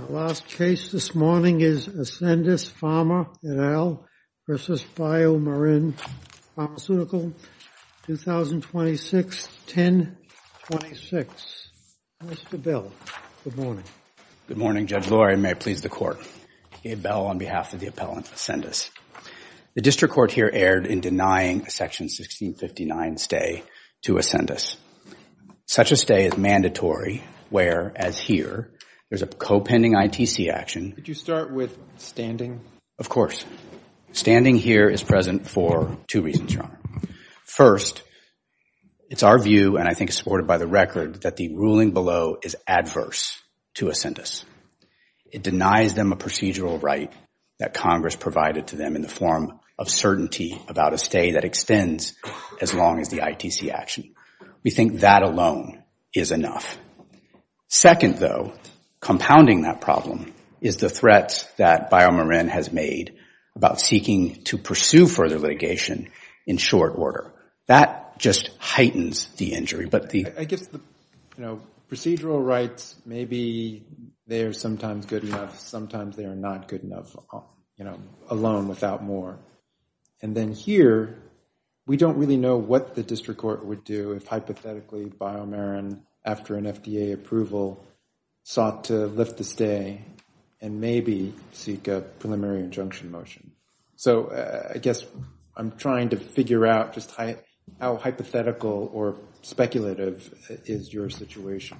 Our last case this morning is Ascendis Pharma et al. v. Biomarin Pharmaceutical, 2026-1026. Mr. Bell, good morning. Good morning, Judge Laurie, and may it please the Court. Gabe Bell on behalf of the appellant, Ascendis. The district court here erred in denying a Section 1659 stay to Ascendis. Such a stay is mandatory, where, as here, there's a co-pending ITC action. Could you start with standing? Of course. Standing here is present for two reasons, Your Honor. First, it's our view, and I think supported by the record, that the ruling below is adverse to Ascendis. It denies them a procedural right that Congress provided to them in the form of certainty about a stay that extends as long as the ITC action. We think that alone is enough. Second, though, compounding that problem is the threat that Biomarin has made about seeking to pursue further litigation in short order. That just heightens the injury. But the- I guess the procedural rights, maybe they are sometimes good enough. Sometimes they are not good enough alone without more. And then here, we don't really know what the district court would do if, hypothetically, Biomarin, after an FDA approval, sought to lift the stay and maybe seek a preliminary injunction motion. So I guess I'm trying to figure out just how hypothetical or speculative is your situation.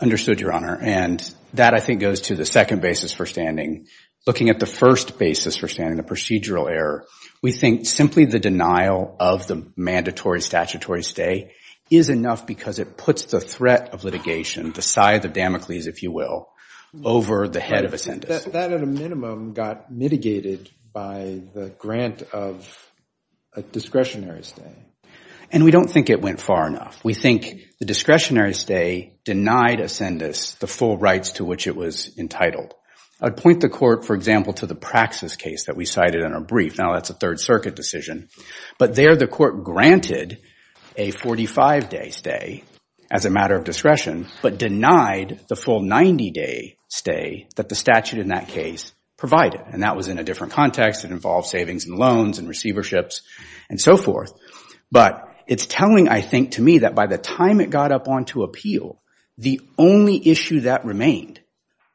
Understood, Your Honor. And that, I think, goes to the second basis for standing. Looking at the first basis for standing, the procedural error, we think simply the denial of the mandatory statutory stay is enough because it puts the threat of litigation, the scythe of Damocles, if you will, over the head of Ascendis. That, at a minimum, got mitigated by the grant of a discretionary stay. And we don't think it went far enough. We think the discretionary stay denied Ascendis the full rights to which it was entitled. I'd point the court, for example, to the Praxis case that we cited in our brief. Now, that's a Third Circuit decision. But there, the court granted a 45-day stay as a matter of discretion but denied the full 90-day stay that the statute in that case provided. And that was in a different context. It involved savings and loans and receiverships and so forth. But it's telling, I think, to me that by the time it got up onto appeal, the only issue that remained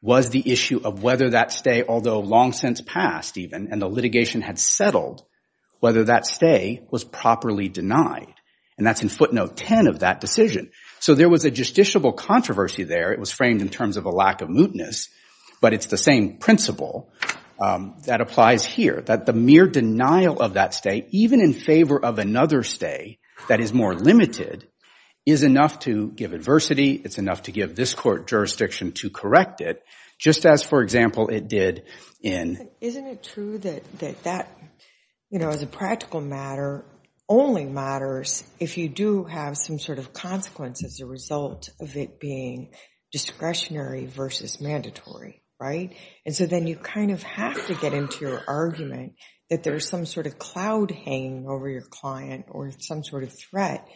was the issue of whether that stay, although long since passed even and the litigation had settled, whether that stay was properly denied. And that's in footnote 10 of that decision. So there was a justiciable controversy there. It was framed in terms of a lack of mootness. But it's the same principle that applies here, that the mere denial of that stay, even in favor of another stay that is more limited, is enough to give adversity. It's enough to give this court jurisdiction to correct it, just as, for example, it did in. Isn't it true that that, as a practical matter, only matters if you do have some sort of consequence as a result of it being discretionary versus mandatory, right? And so then you kind of have to get into your argument that there is some sort of cloud hanging over your client or some sort of threat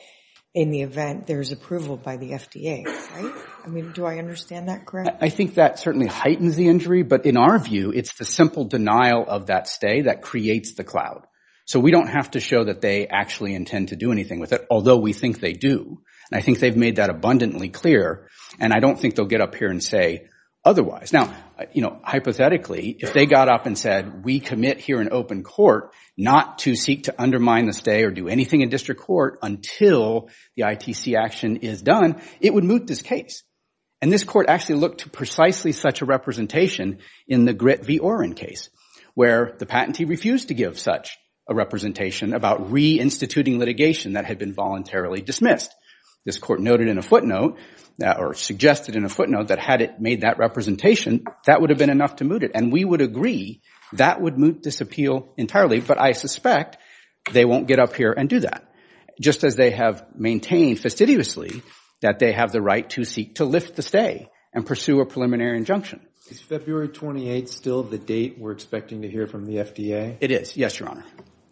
in the event there is approval by the FDA, right? I mean, do I understand that correctly? I think that certainly heightens the injury. But in our view, it's the simple denial of that stay that creates the cloud. So we don't have to show that they actually intend to do anything with it, although we think they do. And I think they've made that abundantly clear. And I don't think they'll get up here and say otherwise. Now, you know, hypothetically, if they got up and said, we commit here in open court not to seek to undermine the stay or do anything in district court until the ITC action is done, it would moot this case. And this court actually looked to precisely such a representation in the Grit v. Orin case, where the patentee refused to give such a representation about reinstituting litigation that had been voluntarily dismissed. This court noted in a footnote, or suggested in a footnote, that had it made that representation, that would have been enough to moot it. And we would agree that would moot this appeal entirely. But I suspect they won't get up here and do that, just as they have maintained fastidiously that they have the right to seek to lift the stay and pursue a preliminary injunction. Is February 28 still the date we're expecting to hear from the FDA? It is, yes, Your Honor.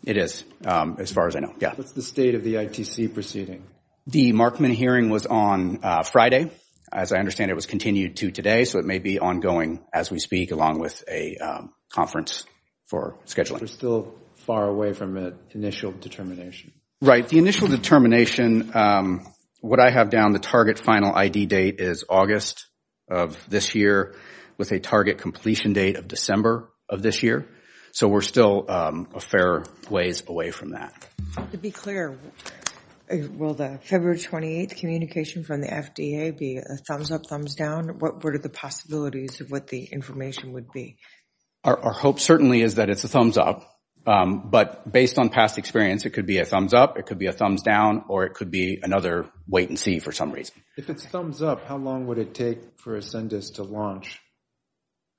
It is, as far as I know, yeah. What's the state of the ITC proceeding? The Markman hearing was on Friday. As I understand, it was continued to today. So it may be ongoing as we speak, along with a conference for scheduling. We're still far away from the initial determination. Right, the initial determination, what I have down, the target final ID date is August of this year, with a target completion date of December of this year. So we're still a fair ways away from that. To be clear, will the February 28 communication from the FDA be a thumbs up, thumbs down? What are the possibilities of what the information would be? Our hope certainly is that it's a thumbs up. But based on past experience, it could be a thumbs up, it could be a thumbs down, or it could be another wait and see for some reason. If it's thumbs up, how long would it take for Ascendus to launch?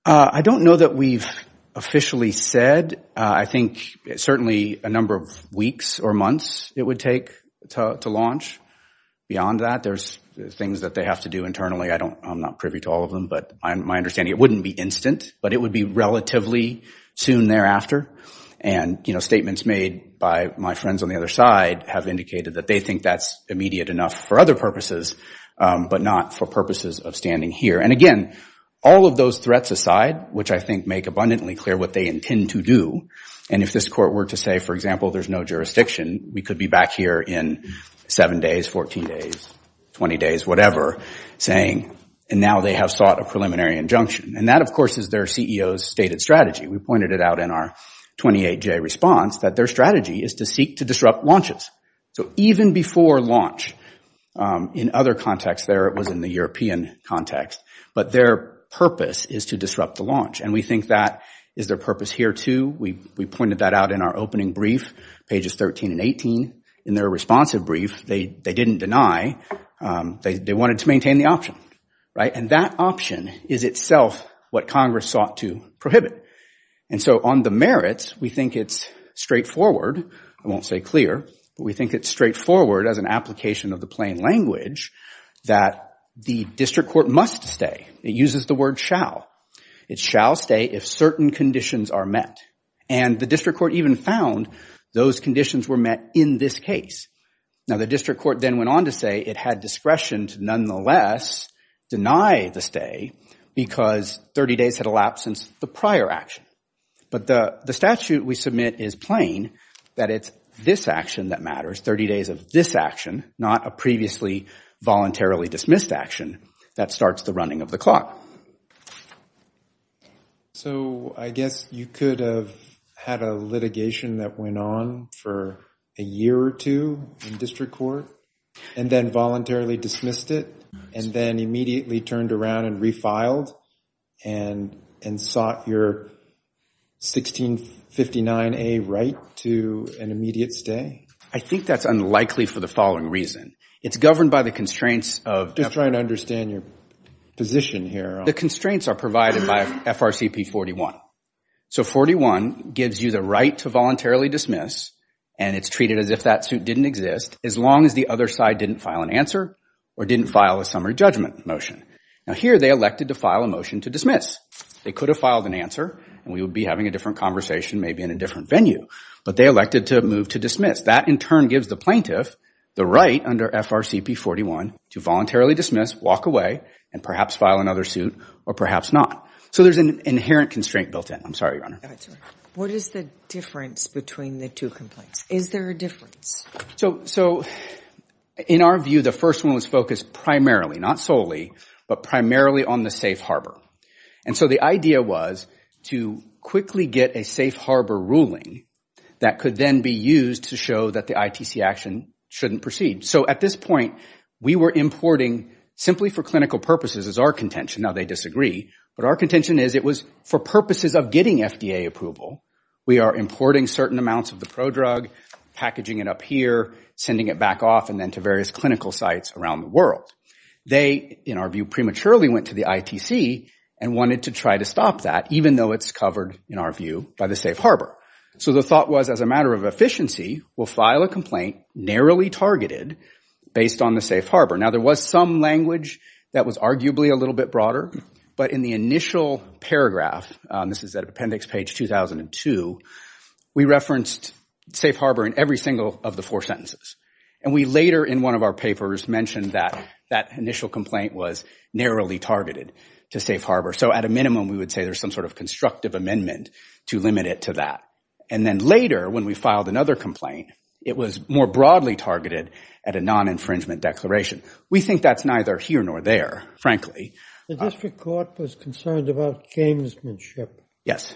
I don't know that we've officially said. I think certainly a number of weeks or months it would take to launch. Beyond that, there's things that they have to do internally. I'm not privy to all of them. But my understanding, it wouldn't be instant, but it would be relatively soon thereafter. And statements made by my friends on the other side have indicated that they think that's immediate enough for other purposes, but not for purposes of standing here. And again, all of those threats aside, which I think make abundantly clear what they intend to do, and if this court were to say, for example, there's no jurisdiction, we could be back here in seven days, 14 days, 20 days, whatever, saying, and now they have sought a preliminary injunction. And that, of course, is their CEO's stated strategy. We pointed it out in our 28-J response that their strategy is to seek to disrupt launches. So even before launch, in other contexts there, it was in the European context, but their purpose is to disrupt the launch. And we think that is their purpose here, too. We pointed that out in our opening brief, pages 13 and 18. In their responsive brief, they didn't deny. They wanted to maintain the option, right? And that option is itself what Congress sought to prohibit. And so on the merits, we think it's straightforward. I won't say clear, but we think it's straightforward as an application of the plain language that the district court must stay. It uses the word shall. It shall stay if certain conditions are met. And the district court even found those conditions were met in this case. Now, the district court then went on to say it had discretion to nonetheless deny the stay because 30 days had elapsed since the prior action. But the statute we submit is plain, that it's this action that matters, 30 days of this action, not a previously voluntarily dismissed action that starts the running of the clock. So I guess you could have had a litigation that went on for a year or two in district court and then voluntarily dismissed it and then immediately turned around and refiled and sought your 1659A right to an immediate stay? I think that's unlikely for the following reason. It's governed by the constraints of- Just trying to understand your position here. The constraints are provided by FRCP 41. So 41 gives you the right to voluntarily dismiss and it's treated as if that suit didn't exist as long as the other side didn't file an answer or didn't file a summary judgment motion. Now, here they elected to file a motion to dismiss. They could have filed an answer and we would be having a different conversation maybe in a different venue, but they elected to move to dismiss. That in turn gives the plaintiff the right under FRCP 41 to voluntarily dismiss, walk away, and perhaps file another suit or perhaps not. So there's an inherent constraint built in. I'm sorry, Your Honor. What is the difference between the two complaints? Is there a difference? So in our view, the first one was focused primarily, not solely, but primarily on the safe harbor. And so the idea was to quickly get a safe harbor ruling that could then be used to show that the ITC action shouldn't proceed. So at this point, we were importing simply for clinical purposes, is our contention. Now, they disagree. But our contention is it was for purposes of getting FDA approval. We are importing certain amounts of the prodrug, packaging it up here, sending it back off, and then to various clinical sites around the world. They, in our view, prematurely went to the ITC and wanted to try to stop that, even though it's covered, in our view, by the safe harbor. So the thought was as a matter of efficiency, we'll file a complaint narrowly targeted based on the safe harbor. Now, there was some language that was arguably a little bit broader. But in the initial paragraph, this is at appendix page 2002, we referenced safe harbor in every single of the four sentences. And we later in one of our papers mentioned that that initial complaint was narrowly targeted to safe harbor. So at a minimum, we would say there's some sort of constructive amendment to limit it to that. And then later, when we filed another complaint, it was more broadly targeted at a non-infringement declaration. We think that's neither here nor there, frankly. The district court was concerned about gamesmanship. Yes.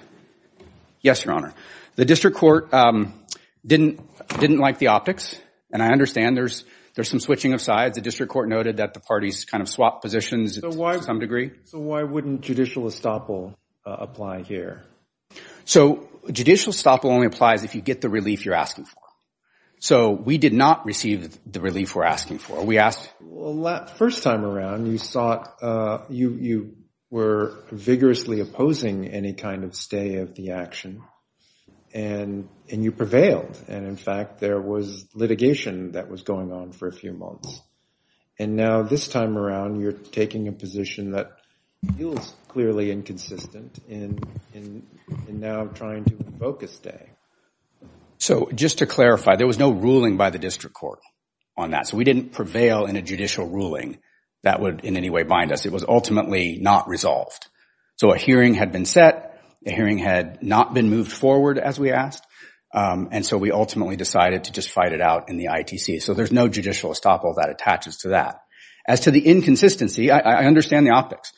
Yes, Your Honor. The district court didn't like the optics. And I understand there's some switching of sides. The district court noted that the parties kind of swap positions to some degree. So why wouldn't judicial estoppel apply here? So judicial estoppel only applies if you get the relief you're asking for. So we did not receive the relief we're asking for. We asked. Well, first time around, you were vigorously opposing any kind of stay of the action. And you prevailed. And in fact, there was litigation that was going on for a few months. And now this time around, you're taking a position that feels clearly inconsistent in now trying to focus stay. So just to clarify, there was no ruling by the district court on that. So we didn't prevail in a judicial ruling that would in any way bind us. It was ultimately not resolved. So a hearing had been set. A hearing had not been moved forward, as we asked. And so we ultimately decided to just fight it out in the ITC. So there's no judicial estoppel that attaches to that. As to the inconsistency, I understand the optics.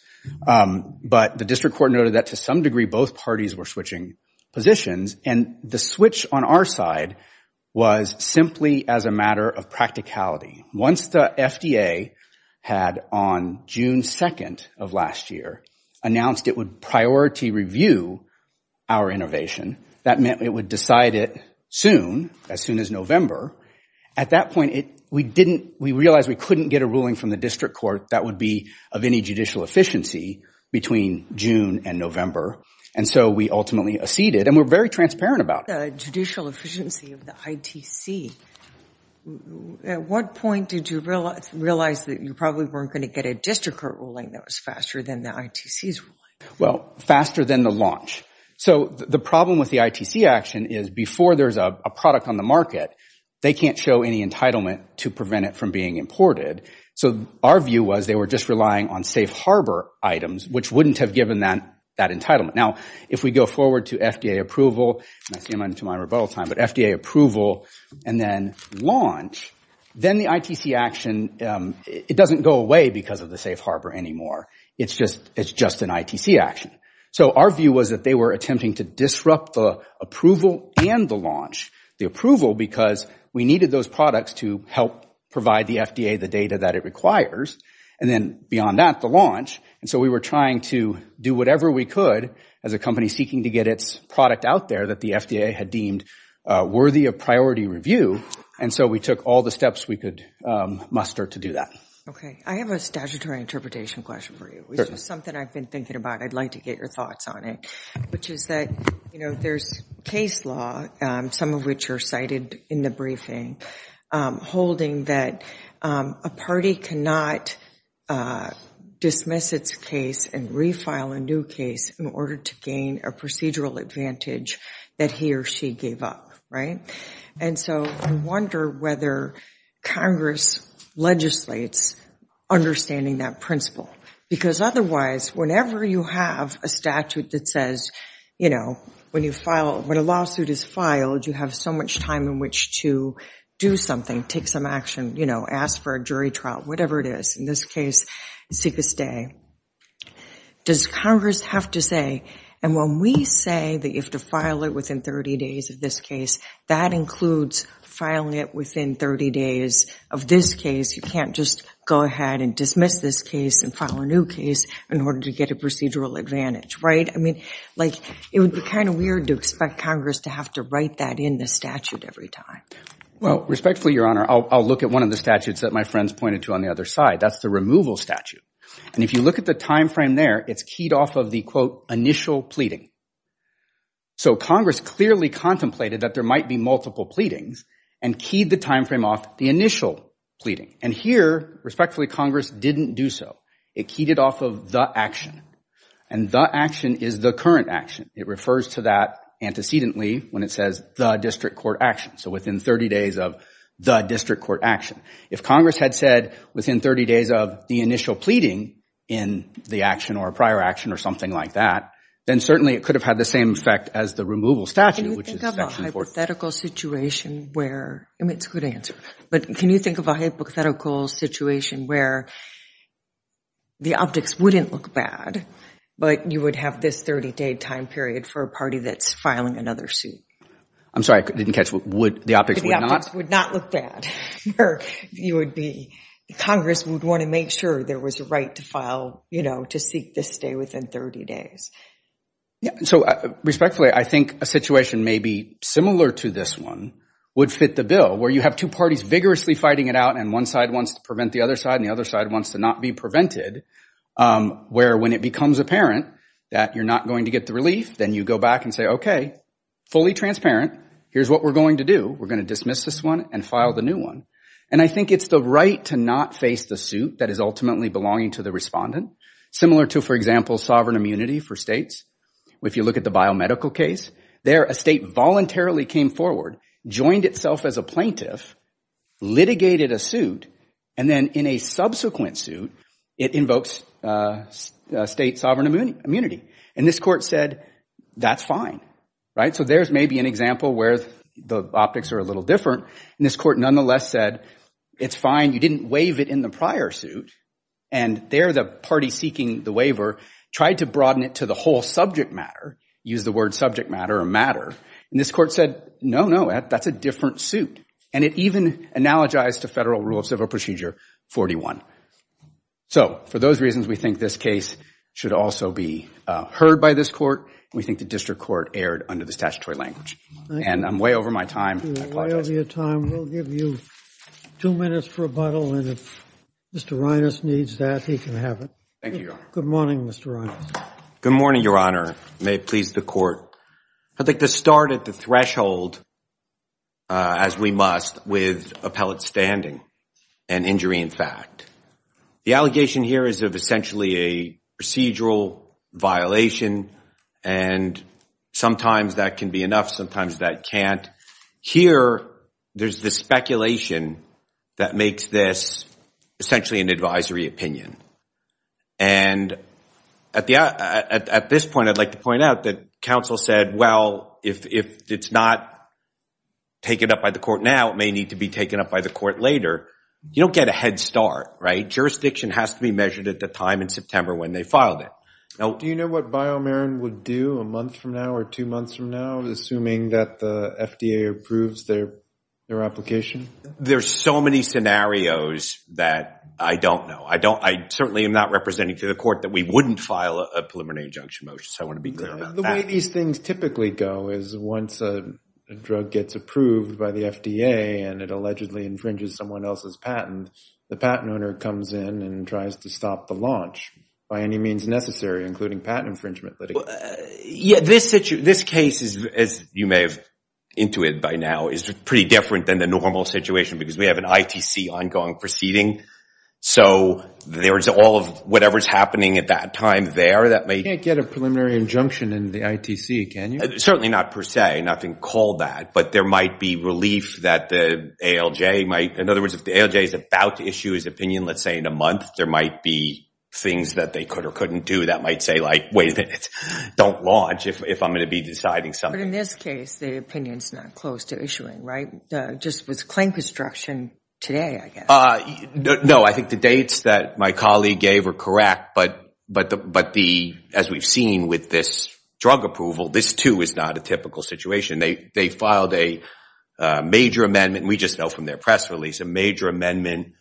But the district court noted that to some degree, both parties were switching positions. And the switch on our side was simply as a matter of practicality. Once the FDA had, on June 2nd of last year, announced it would priority review our innovation, that meant it would decide it soon, as soon as November. At that point, we realized we couldn't get a ruling from the district court that would be of any judicial efficiency between June and November. And so we ultimately acceded. And we're very transparent about it. The judicial efficiency of the ITC, at what point did you realize that you probably weren't going to get a district court ruling that was faster than the ITC's ruling? Well, faster than the launch. So the problem with the ITC action is before there's a product on the market, they can't show any entitlement to prevent it from being imported. So our view was they were just relying on safe harbor items, which wouldn't have given them that entitlement. Now, if we go forward to FDA approval, and I say that to my rebuttal time, but FDA approval and then launch, then the ITC action, it doesn't go away because of the safe harbor anymore. It's just an ITC action. So our view was that they were attempting to disrupt the approval and the launch, the approval because we needed those products to help provide the FDA the data that it requires, and then beyond that, the launch. And so we were trying to do whatever we could as a company seeking to get its product out there that the FDA had deemed worthy of priority review. And so we took all the steps we could muster to do that. OK, I have a statutory interpretation question for you. It's just something I've been thinking about. I'd like to get your thoughts on it, which is that there's case law, some of which are cited in the briefing, holding that a party cannot dismiss its case and refile a new case in order to gain a procedural advantage that he or she gave up, right? And so I wonder whether Congress legislates understanding that principle. Because otherwise, whenever you have a statute that says, when a lawsuit is filed, you have so much time in which to do something, take some action, ask for a jury trial, whatever it is. In this case, it's sick to stay. Does Congress have to say, and when we say that you have to file it within 30 days of this case, that includes filing it within 30 days of this case. You can't just go ahead and dismiss this case and file a new case in order to get a procedural advantage, right? I mean, it would be kind of weird to expect Congress to have to write that in the statute every time. Well, respectfully, Your Honor, I'll look at one of the statutes that my friends pointed to on the other side. That's the removal statute. And if you look at the time frame there, it's keyed off of the, quote, initial pleading. So Congress clearly contemplated that there might be multiple pleadings and keyed the time frame off the initial pleading. And here, respectfully, Congress didn't do so. It keyed it off of the action. And the action is the current action. It refers to that antecedently when it says the district court action, so within 30 days of the district court action. If Congress had said within 30 days of the initial pleading in the action or a prior action or something like that, then certainly it could have had the same effect as the removal statute, which is section 14. Can you think of a hypothetical situation where, I mean, it's a good answer. But can you think of a hypothetical situation where the optics wouldn't look bad, but you would have this 30-day time period for a party that's filing another suit? I'm sorry, I didn't catch. The optics would not? The optics would not look bad. Congress would want to make sure there was a right to seek this stay within 30 days. So respectfully, I think a situation maybe similar to this one would fit the bill, where you have two parties vigorously fighting it out, and one side wants to prevent the other side, and the other side wants to not be prevented, where when it becomes apparent that you're not going to get the relief, then you go back and say, OK, fully transparent. Here's what we're going to do. We're going to dismiss this one and file the new one. And I think it's the right to not face the suit that is ultimately belonging to the respondent, similar to, for example, sovereign immunity for states. If you look at the biomedical case, there a state voluntarily came forward, joined itself as a plaintiff, litigated a suit, and then in a subsequent suit, it invokes state sovereign immunity. And this court said, that's fine. So there's maybe an example where the optics are a little different. And this court nonetheless said, it's fine. You didn't waive it in the prior suit. And there, the party seeking the waiver tried to broaden it to the whole subject matter, use the word subject matter or matter. And this court said, no, no, that's a different suit. And it even analogized to federal rule of civil procedure 41. So for those reasons, we think this case should also be heard by this court. We think the district court erred under the statutory language. And I'm way over my time. I apologize. You're way over your time. We'll give you two minutes for rebuttal. And if Mr. Reines needs that, he can have it. Thank you, Your Honor. Good morning, Mr. Reines. Good morning, Your Honor. May it please the court. I'd like to start at the threshold, as we must, with appellate standing and injury in fact. The allegation here is of essentially a procedural violation. And sometimes that can be enough. Sometimes that can't. Here, there's the speculation that makes this essentially an advisory opinion. And at this point, I'd like to point out that counsel said, well, if it's not taken up by the court now, it may need to be taken up by the court later. You don't get a head start, right? Jurisdiction has to be measured at the time in September when they filed it. Do you know what BioMarin would do a month from now or two months from now, assuming that the FDA approves their application? There's so many scenarios that I don't know. I certainly am not representing to the court that we wouldn't file a preliminary injunction motion. So I want to be clear about that. The way these things typically go is once a drug gets approved by the FDA and it allegedly infringes someone else's patent, the patent owner comes in and tries to stop the launch by any means necessary, including patent infringement litigation. Yeah, this case, as you may have intuit by now, is pretty different than the normal situation because we have an ITC ongoing proceeding. So there is all of whatever is happening at that time there that may get a preliminary injunction in the ITC, can you? Certainly not per se. Nothing called that. But there might be relief that the ALJ might, in other words, if the ALJ is about to issue his opinion, let's say in a month, there might be things that they could or couldn't do that might say, wait a minute, don't launch if I'm going to be deciding something. But in this case, the opinion's not close to issuing, right? Just with claim construction today, I guess. No, I think the dates that my colleague gave were correct. But as we've seen with this drug approval, this too is not a typical situation. They filed a major amendment, and we just know from their press release, a major amendment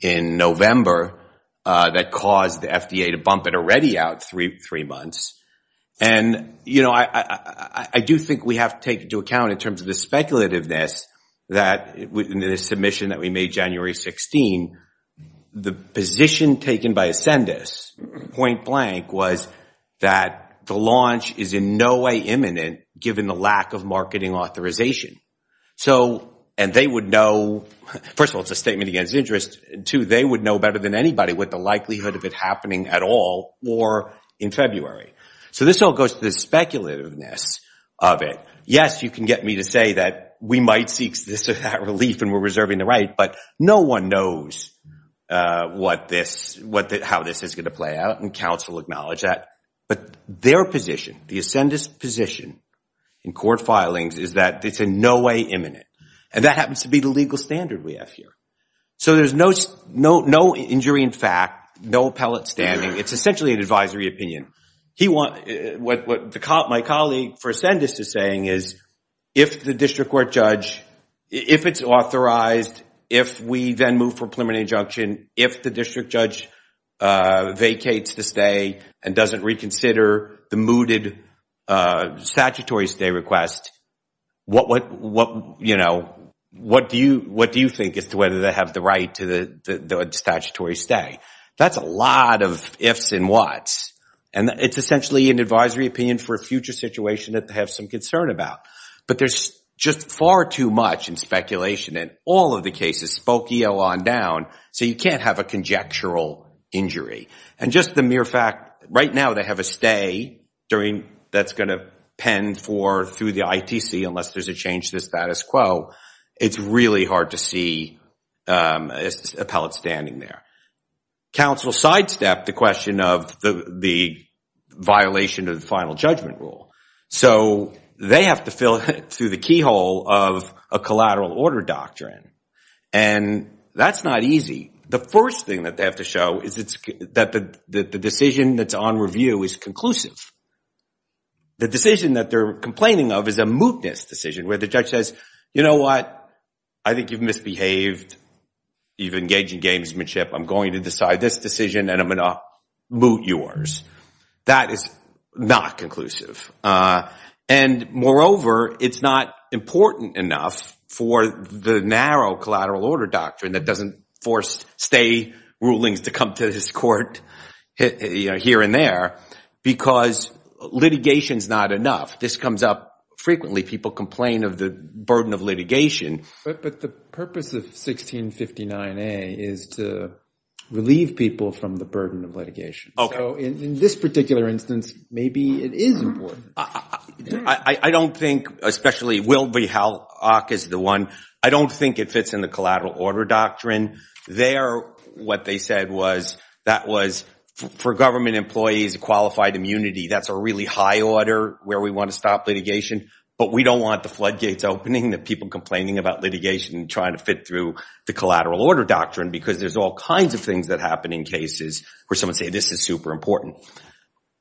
in November that caused the FDA to bump it already out three months. And I do think we have to take into account, in terms of the speculativeness, that in the submission that we made January 16, the position taken by Ascendus, point blank, was that the launch is in no way imminent given the lack of marketing authorization. And they would know, first of all, it's a statement against interest. Two, they would know better than anybody with the likelihood of it happening at all or in February. So this all goes to the speculativeness of it. Yes, you can get me to say that we might seek this relief and we're reserving the right, but no one knows how this is going to play out, and counsel acknowledge that. But their position, the Ascendus' position in court filings, is that it's in no way imminent. And that happens to be the legal standard we have here. So there's no injury in fact, no appellate standing. It's essentially an advisory opinion. What my colleague for Ascendus is saying is if the district court judge, if it's authorized, if we then move for preliminary injunction, if the district judge vacates the stay and doesn't reconsider the mooted statutory stay request, what do you think as to whether they have the right to the statutory stay? That's a lot of ifs and what's. And it's essentially an advisory opinion for a future situation that they have some concern about. But there's just far too much in speculation in all of the cases, Spokio on down, so you can't have a conjectural injury. And just the mere fact, right now they have a stay that's going to pen through the ITC unless there's a change to the status quo, it's really hard to see an appellate standing there. Counsel sidestepped the question of the violation of the final judgment rule. So they have to fill through the keyhole of a collateral order doctrine. And that's not easy. The first thing that they have to show is that the decision that's on review is conclusive. The decision that they're complaining of is a mootness decision where the judge says, you know what? I think you've misbehaved. You've engaged in gamesmanship. I'm going to decide this decision, and I'm going to moot yours. That is not conclusive. And moreover, it's not important enough for the narrow collateral order doctrine that doesn't force stay rulings to come to this court here and there because litigation is not enough. This comes up frequently. People complain of the burden of litigation. But the purpose of 1659A is to relieve people from the burden of litigation. So in this particular instance, maybe it is important. I don't think, especially Wilby Hallock is the one, I don't think it fits in the collateral order doctrine. There, what they said was that was, for government employees, qualified immunity. That's a really high order where we want to stop litigation. But we don't want the floodgates opening, the people complaining about litigation and trying to fit through the collateral order doctrine because there's all kinds of things that happen in cases where someone says, this is super important.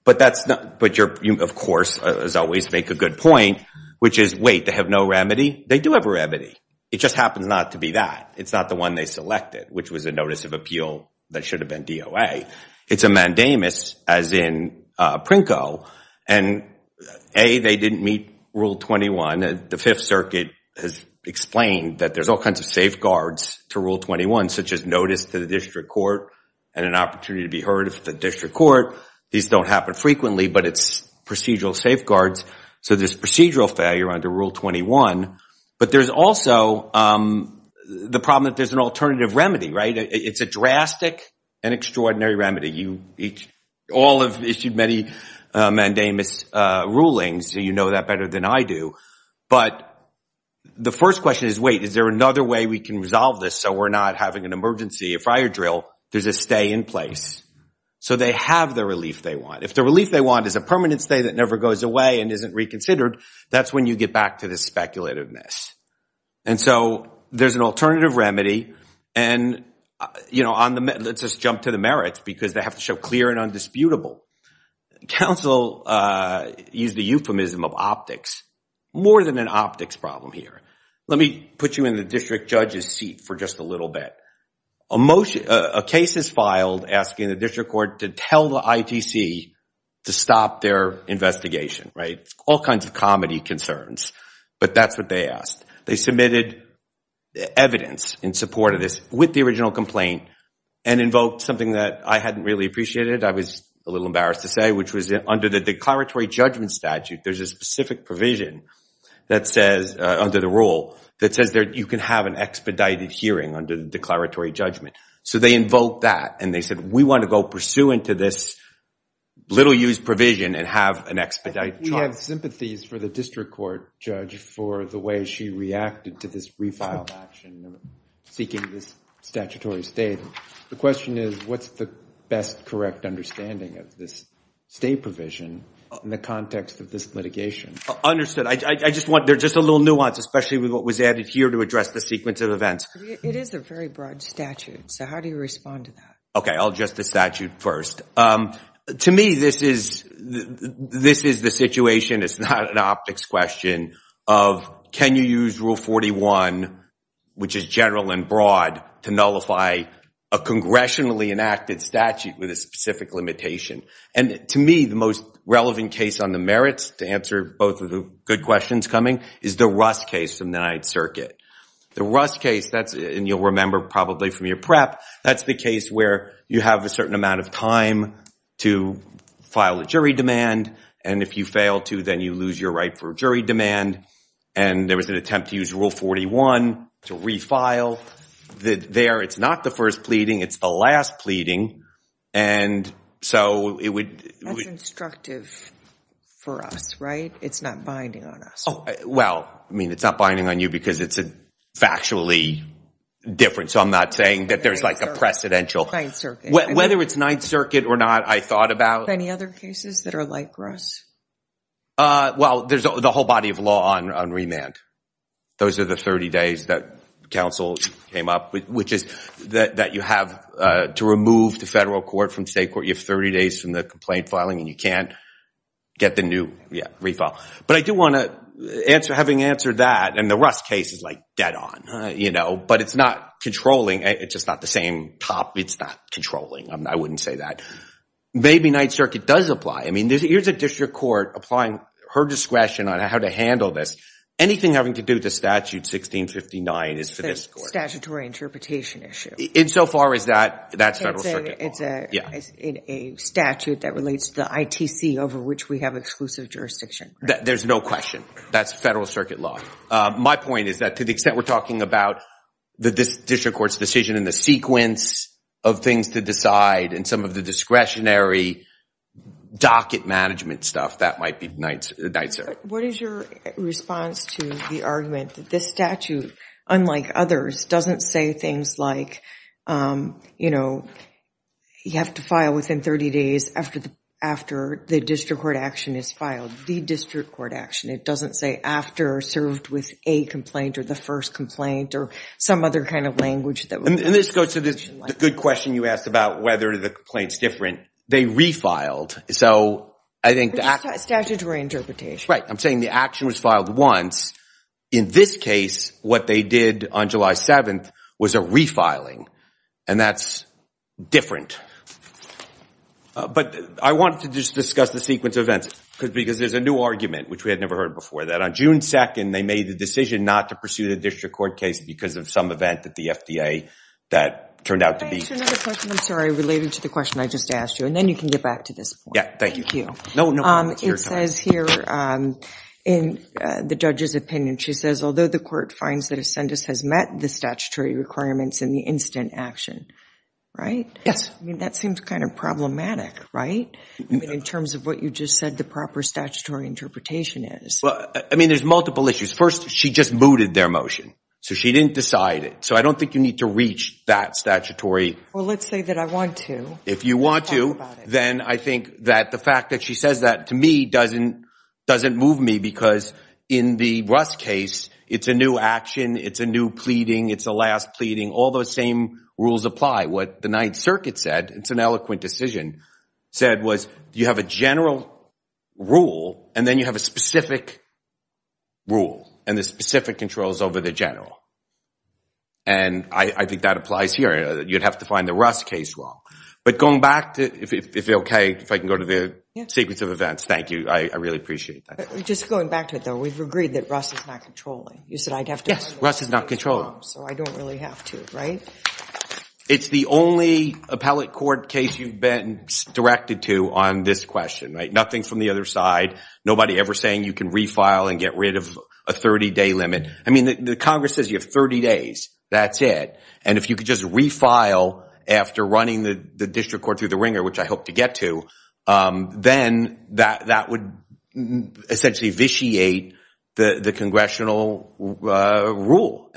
But you, of course, as always, make a good point, which is, wait, they have no remedy? They do have a remedy. It just happens not to be that. It's not the one they selected, which was a notice of appeal that should have been DOA. It's a mandamus, as in PRINCO. And A, they didn't meet Rule 21. The Fifth Circuit has explained that there's all kinds of safeguards to Rule 21, such as notice to the district court and an opportunity to be heard at the district court. These don't happen frequently, but it's procedural safeguards. So there's procedural failure under Rule 21. But there's also the problem that there's an alternative remedy, right? It's a drastic and extraordinary remedy. All have issued many mandamus rulings. You know that better than I do. But the first question is, wait, is there another way we can resolve this so we're not having an emergency fire drill? There's a stay in place. So they have the relief they want. If the relief they want is a permanent stay that never goes away and isn't reconsidered, that's when you get back to the speculativeness. And so there's an alternative remedy. And let's just jump to the merits, because they have to show clear and undisputable. Counsel used the euphemism of optics. More than an optics problem here. Let me put you in the district judge's seat for just a little bit. A case is filed asking the district court to tell the ITC to stop their investigation, right? All kinds of comedy concerns, but that's what they asked. They submitted evidence in support of this with the original complaint and invoked something that I hadn't really appreciated. I was a little embarrassed to say, which was under the declaratory judgment statute, there's a specific provision that says, under the rule, that says you can have an expedited hearing under the declaratory judgment. So they invoked that. And they said, we want to go pursuant to this little-used provision and have an expedited trial. We have sympathies for the district court judge for the way she reacted to this refiled action seeking this statutory stay. The question is, what's the best correct understanding of this stay provision in the context of this litigation? Understood. There's just a little nuance, especially with what was added here to address the sequence of events. It is a very broad statute. So how do you respond to that? OK, I'll address the statute first. To me, this is the situation. It's not an optics question of, can you use Rule 41, which is general and broad, to nullify a congressionally enacted statute with a specific limitation? And to me, the most relevant case on the merits, to answer both of the good questions coming, is the Rust case from the Ninth Circuit. The Rust case, and you'll remember probably from your prep, that's the case where you have a certain amount of time to file a jury demand. And if you fail to, then you lose your right for a jury demand. And there was an attempt to use Rule 41 to refile. There, it's not the first pleading. It's the last pleading. And so it would- That's instructive for us, right? It's not binding on us. Well, I mean, it's not binding on you because it's factually different. So I'm not saying that there's like a precedential. Whether it's Ninth Circuit or not, I thought about- Any other cases that are like Rust? Well, there's the whole body of law on remand. Those are the 30 days that counsel came up with, which is that you have to remove the federal court from state court. You have 30 days from the complaint filing, and you can't get the new refile. But I do want to answer, having answered that, and the Rust case is like dead on. But it's not controlling. It's just not the same top. It's not controlling. I wouldn't say that. Maybe Ninth Circuit does apply. I mean, here's a district court applying her discretion on how to handle this. Anything having to do with the statute 1659 is for this court. Statutory interpretation issue. Insofar as that, that's federal circuit law. It's a statute that relates to the ITC, over which we have exclusive jurisdiction. There's no question. That's federal circuit law. My point is that to the extent we're talking about the district court's decision and the sequence of things to decide and some of the discretionary docket management stuff, that might be Ninth Circuit. What is your response to the argument that this statute, unlike others, doesn't say things like, you have to file within 30 days after the district court action is filed, the district court action. It doesn't say after, served with a complaint, or the first complaint, or some other kind of language that would make the decision like that. Good question you asked about whether the complaint's different. They refiled. So I think the action was filed once. In this case, what they did on July 7th was a refiling. And that's different. But I wanted to just discuss the sequence of events because there's a new argument, which we had never heard before, that on June 2nd, they made the decision not to pursue the district court case because of some event at the FDA that turned out to be different. I'm sorry. Related to the question I just asked you. And then you can get back to this point. Yeah, thank you. Thank you. No, no. It says here in the judge's opinion, she says, although the court finds that a sentence has met the statutory requirements in the instant action, right? Yes. That seems kind of problematic, right? In terms of what you just said, the proper statutory interpretation is. Well, I mean, there's multiple issues. First, she just mooted their motion. So she didn't decide it. So I don't think you need to reach that statutory. Well, let's say that I want to. If you want to, then I think that the fact that she says that to me doesn't move me because in the Russ case, it's a new action. It's a new pleading. It's a last pleading. All those same rules apply. What the Ninth Circuit said, it's an eloquent decision, said was, you have a general rule, and then you have a specific rule, and the specific controls over the general. And I think that applies here. You'd have to find the Russ case wrong. But going back to, if it's OK, if I can go to the sequence of events, thank you. I really appreciate that. Just going back to it, though, we've agreed that Russ is not controlling. You said I'd have to explain the case wrong, so I don't really have to, right? It's the only appellate court case you've been directed to on this question, right? Nothing from the other side. Nobody ever saying you can refile and get rid of a 30-day limit. I mean, the Congress says you have 30 days. That's it. And if you could just refile after running the district court through the ringer, which I hope to get to, then that would essentially vitiate the congressional rule.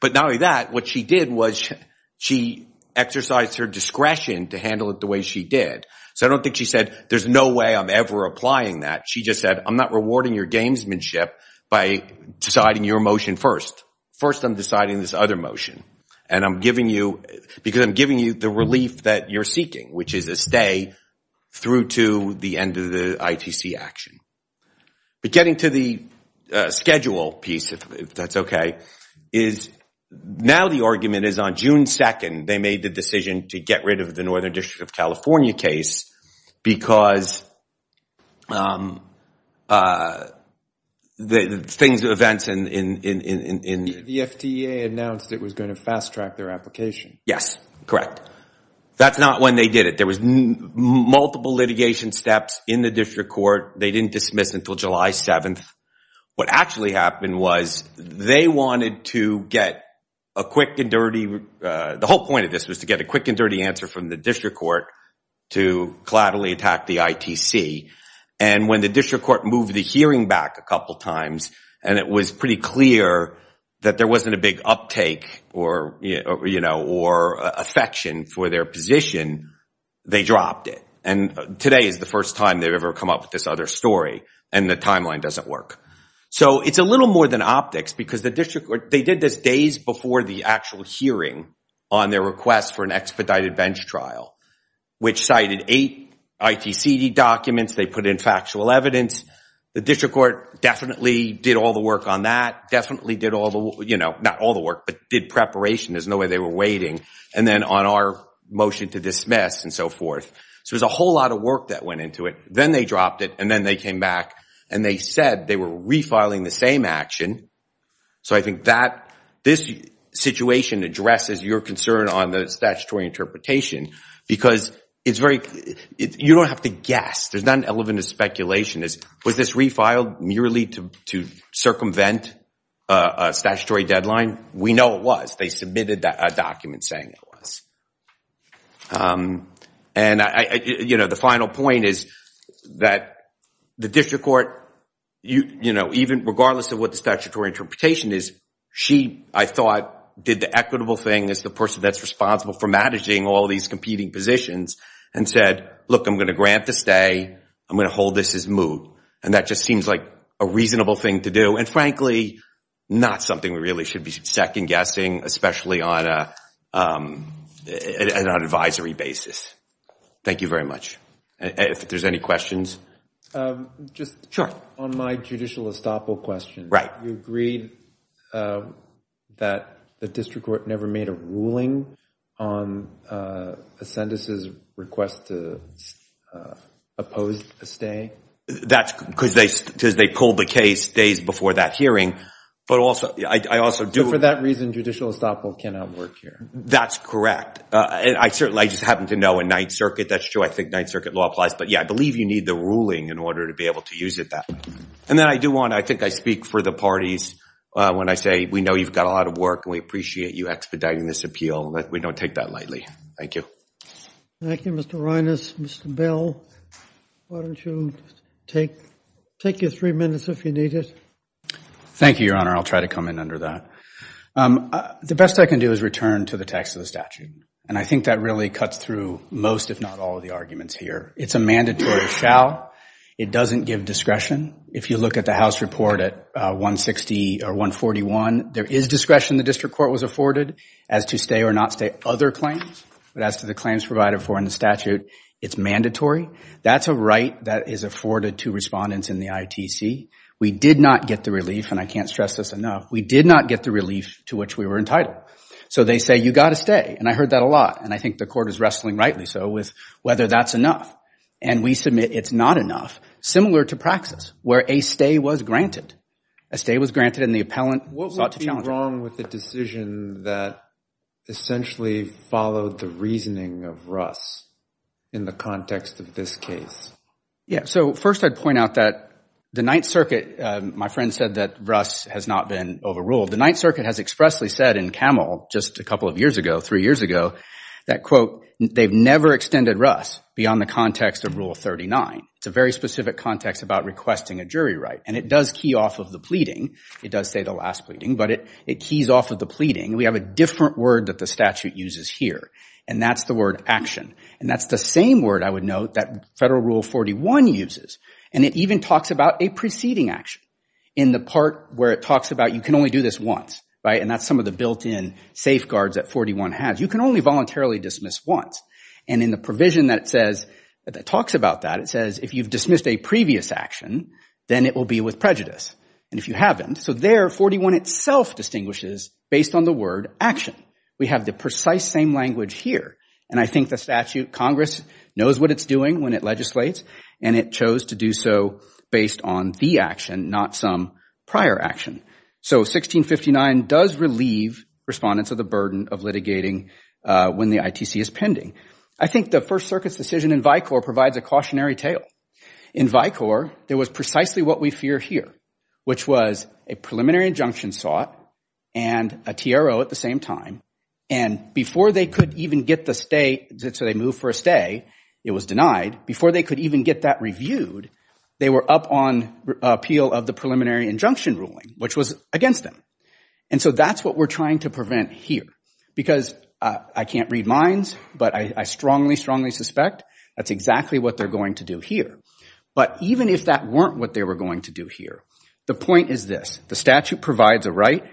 But not only that, what she did was she exercised her discretion to handle it the way she did. So I don't think she said, there's no way I'm ever applying that. She just said, I'm not rewarding your gamesmanship by deciding your motion first. First, I'm deciding this other motion, because I'm giving you the relief that you're seeking, which is a stay through to the end of the ITC action. But getting to the schedule piece, if that's OK, is now the argument is on June 2, they made the decision to get rid of the Northern District of California case because the things, the events in the FDA announced it was going to fast track their application. Yes, correct. That's not when they did it. There was multiple litigation steps in the district court. They didn't dismiss until July 7. What actually happened was they wanted to get a quick and dirty, the whole point of this was to get a quick and dirty answer from the district court to collaterally attack the ITC. And when the district court moved the hearing back a couple of times, and it was pretty clear that there wasn't a big uptake or affection for their position, they dropped it. And today is the first time they've ever come up with this other story. And the timeline doesn't work. So it's a little more than optics because the district court, they did this days before the actual hearing on their request for an expedited bench trial, which cited eight ITCD documents. They put in factual evidence. The district court definitely did all the work on that, definitely did all the, not all the work, but did preparation. There's no way they were waiting. And then on our motion to dismiss and so forth. So there's a whole lot of work that went into it. Then they dropped it. And then they came back. And they said they were refiling the same action. So I think that this situation addresses your concern on the statutory interpretation because it's very, you don't have to guess. There's not an element of speculation. Was this refiled merely to circumvent a statutory deadline? We know it was. They submitted a document saying it was. And the final point is that the district court, even regardless of what the statutory interpretation is, she, I thought, did the equitable thing as the person that's responsible for managing all these competing positions and said, look, I'm going to grant the stay. I'm going to hold this as moot. And that just seems like a reasonable thing to do. And frankly, not something we really should be second-guessing, especially on an advisory basis. Thank you very much. If there's any questions. Just on my judicial estoppel question, you agreed that the district court never made a ruling on a sentence's request to oppose a stay? That's because they pulled the case days before that hearing. So for that reason, judicial estoppel cannot work here. That's correct. I just happen to know in Ninth Circuit, that's true, I think Ninth Circuit law applies. But yeah, I believe you need the ruling in order to be able to use it that way. And then I do want to, I think I speak for the parties when I say we know you've got a lot of work and we appreciate you expediting this appeal. We don't take that lightly. Thank you. Thank you, Mr. Reines. Mr. Bell, why don't you take your three minutes if you need it. Thank you, Your Honor. I'll try to come in under that. The best I can do is return to the text of the statute. And I think that really cuts through most, if not all, of the arguments here. It's a mandatory shall. It doesn't give discretion. If you look at the House report at 160 or 141, there is discretion the district court was afforded as to stay or not stay other claims. But as to the claims provided for in the statute, it's mandatory. That's a right that is afforded to respondents in the ITC. We did not get the relief, and I can't stress this enough. We did not get the relief to which we were entitled. So they say, you've got to stay. And I heard that a lot. And I think the court is wrestling rightly so with whether that's enough. And we submit it's not enough, similar to praxis, where a stay was granted. A stay was granted and the appellant sought to challenge What would be wrong with the decision that essentially followed the reasoning of Russ in the context of this case? So first, I'd point out that the Ninth Circuit, my friend said that Russ has not been overruled. The Ninth Circuit has expressly said in Camel just a couple of years ago, three years ago, that quote, they've never extended Russ beyond the context of Rule 39. It's a very specific context about requesting a jury right. And it does key off of the pleading. It does say the last pleading, but it keys off of the pleading. We have a different word that the statute uses here, and that's the word action. And that's the same word, I would note, that federal Rule 41 uses. And it even talks about a preceding action in the part where it talks about you can only do this once. And that's some of the built-in safeguards that 41 has. You can only voluntarily dismiss once. And in the provision that talks about that, it says if you've dismissed a previous action, then it will be with prejudice. And if you haven't, so there 41 itself distinguishes based on the word action. We have the precise same language here. And I think the statute, Congress knows what it's doing when it legislates, and it chose to do so based on the action, not some prior action. So 1659 does relieve respondents of the burden of litigating when the ITC is pending. I think the First Circuit's decision in Vicor provides a cautionary tale. In Vicor, there was precisely what we fear here, which was a preliminary injunction sought and a TRO at the same time. And before they could even get the stay, so they moved for a stay, it was denied. Before they could even get that reviewed, they were up on appeal of the preliminary injunction ruling, which was against them. And so that's what we're trying to prevent here. Because I can't read minds, but I strongly, strongly suspect that's exactly what they're going to do here. But even if that weren't what they were going to do here, the point is this. The statute provides a right.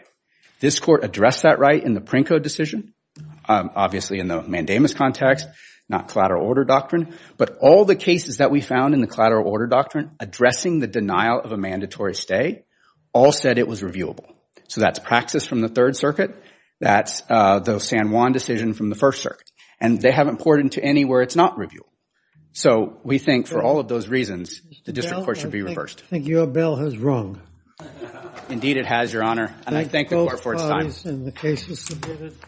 This court addressed that right in the Princo decision, obviously in the mandamus context, not collateral order doctrine. But all the cases that we found in the collateral order doctrine addressing the denial of a mandatory stay all said it was reviewable. So that's Praxis from the Third Circuit. That's the San Juan decision from the First Circuit. And they haven't poured into any where it's not reviewable. So we think for all of those reasons, the district court should be reversed. I think your bill has rung. Indeed, it has, Your Honor. And I thank the court for its time. Thank you both parties, and the case is submitted.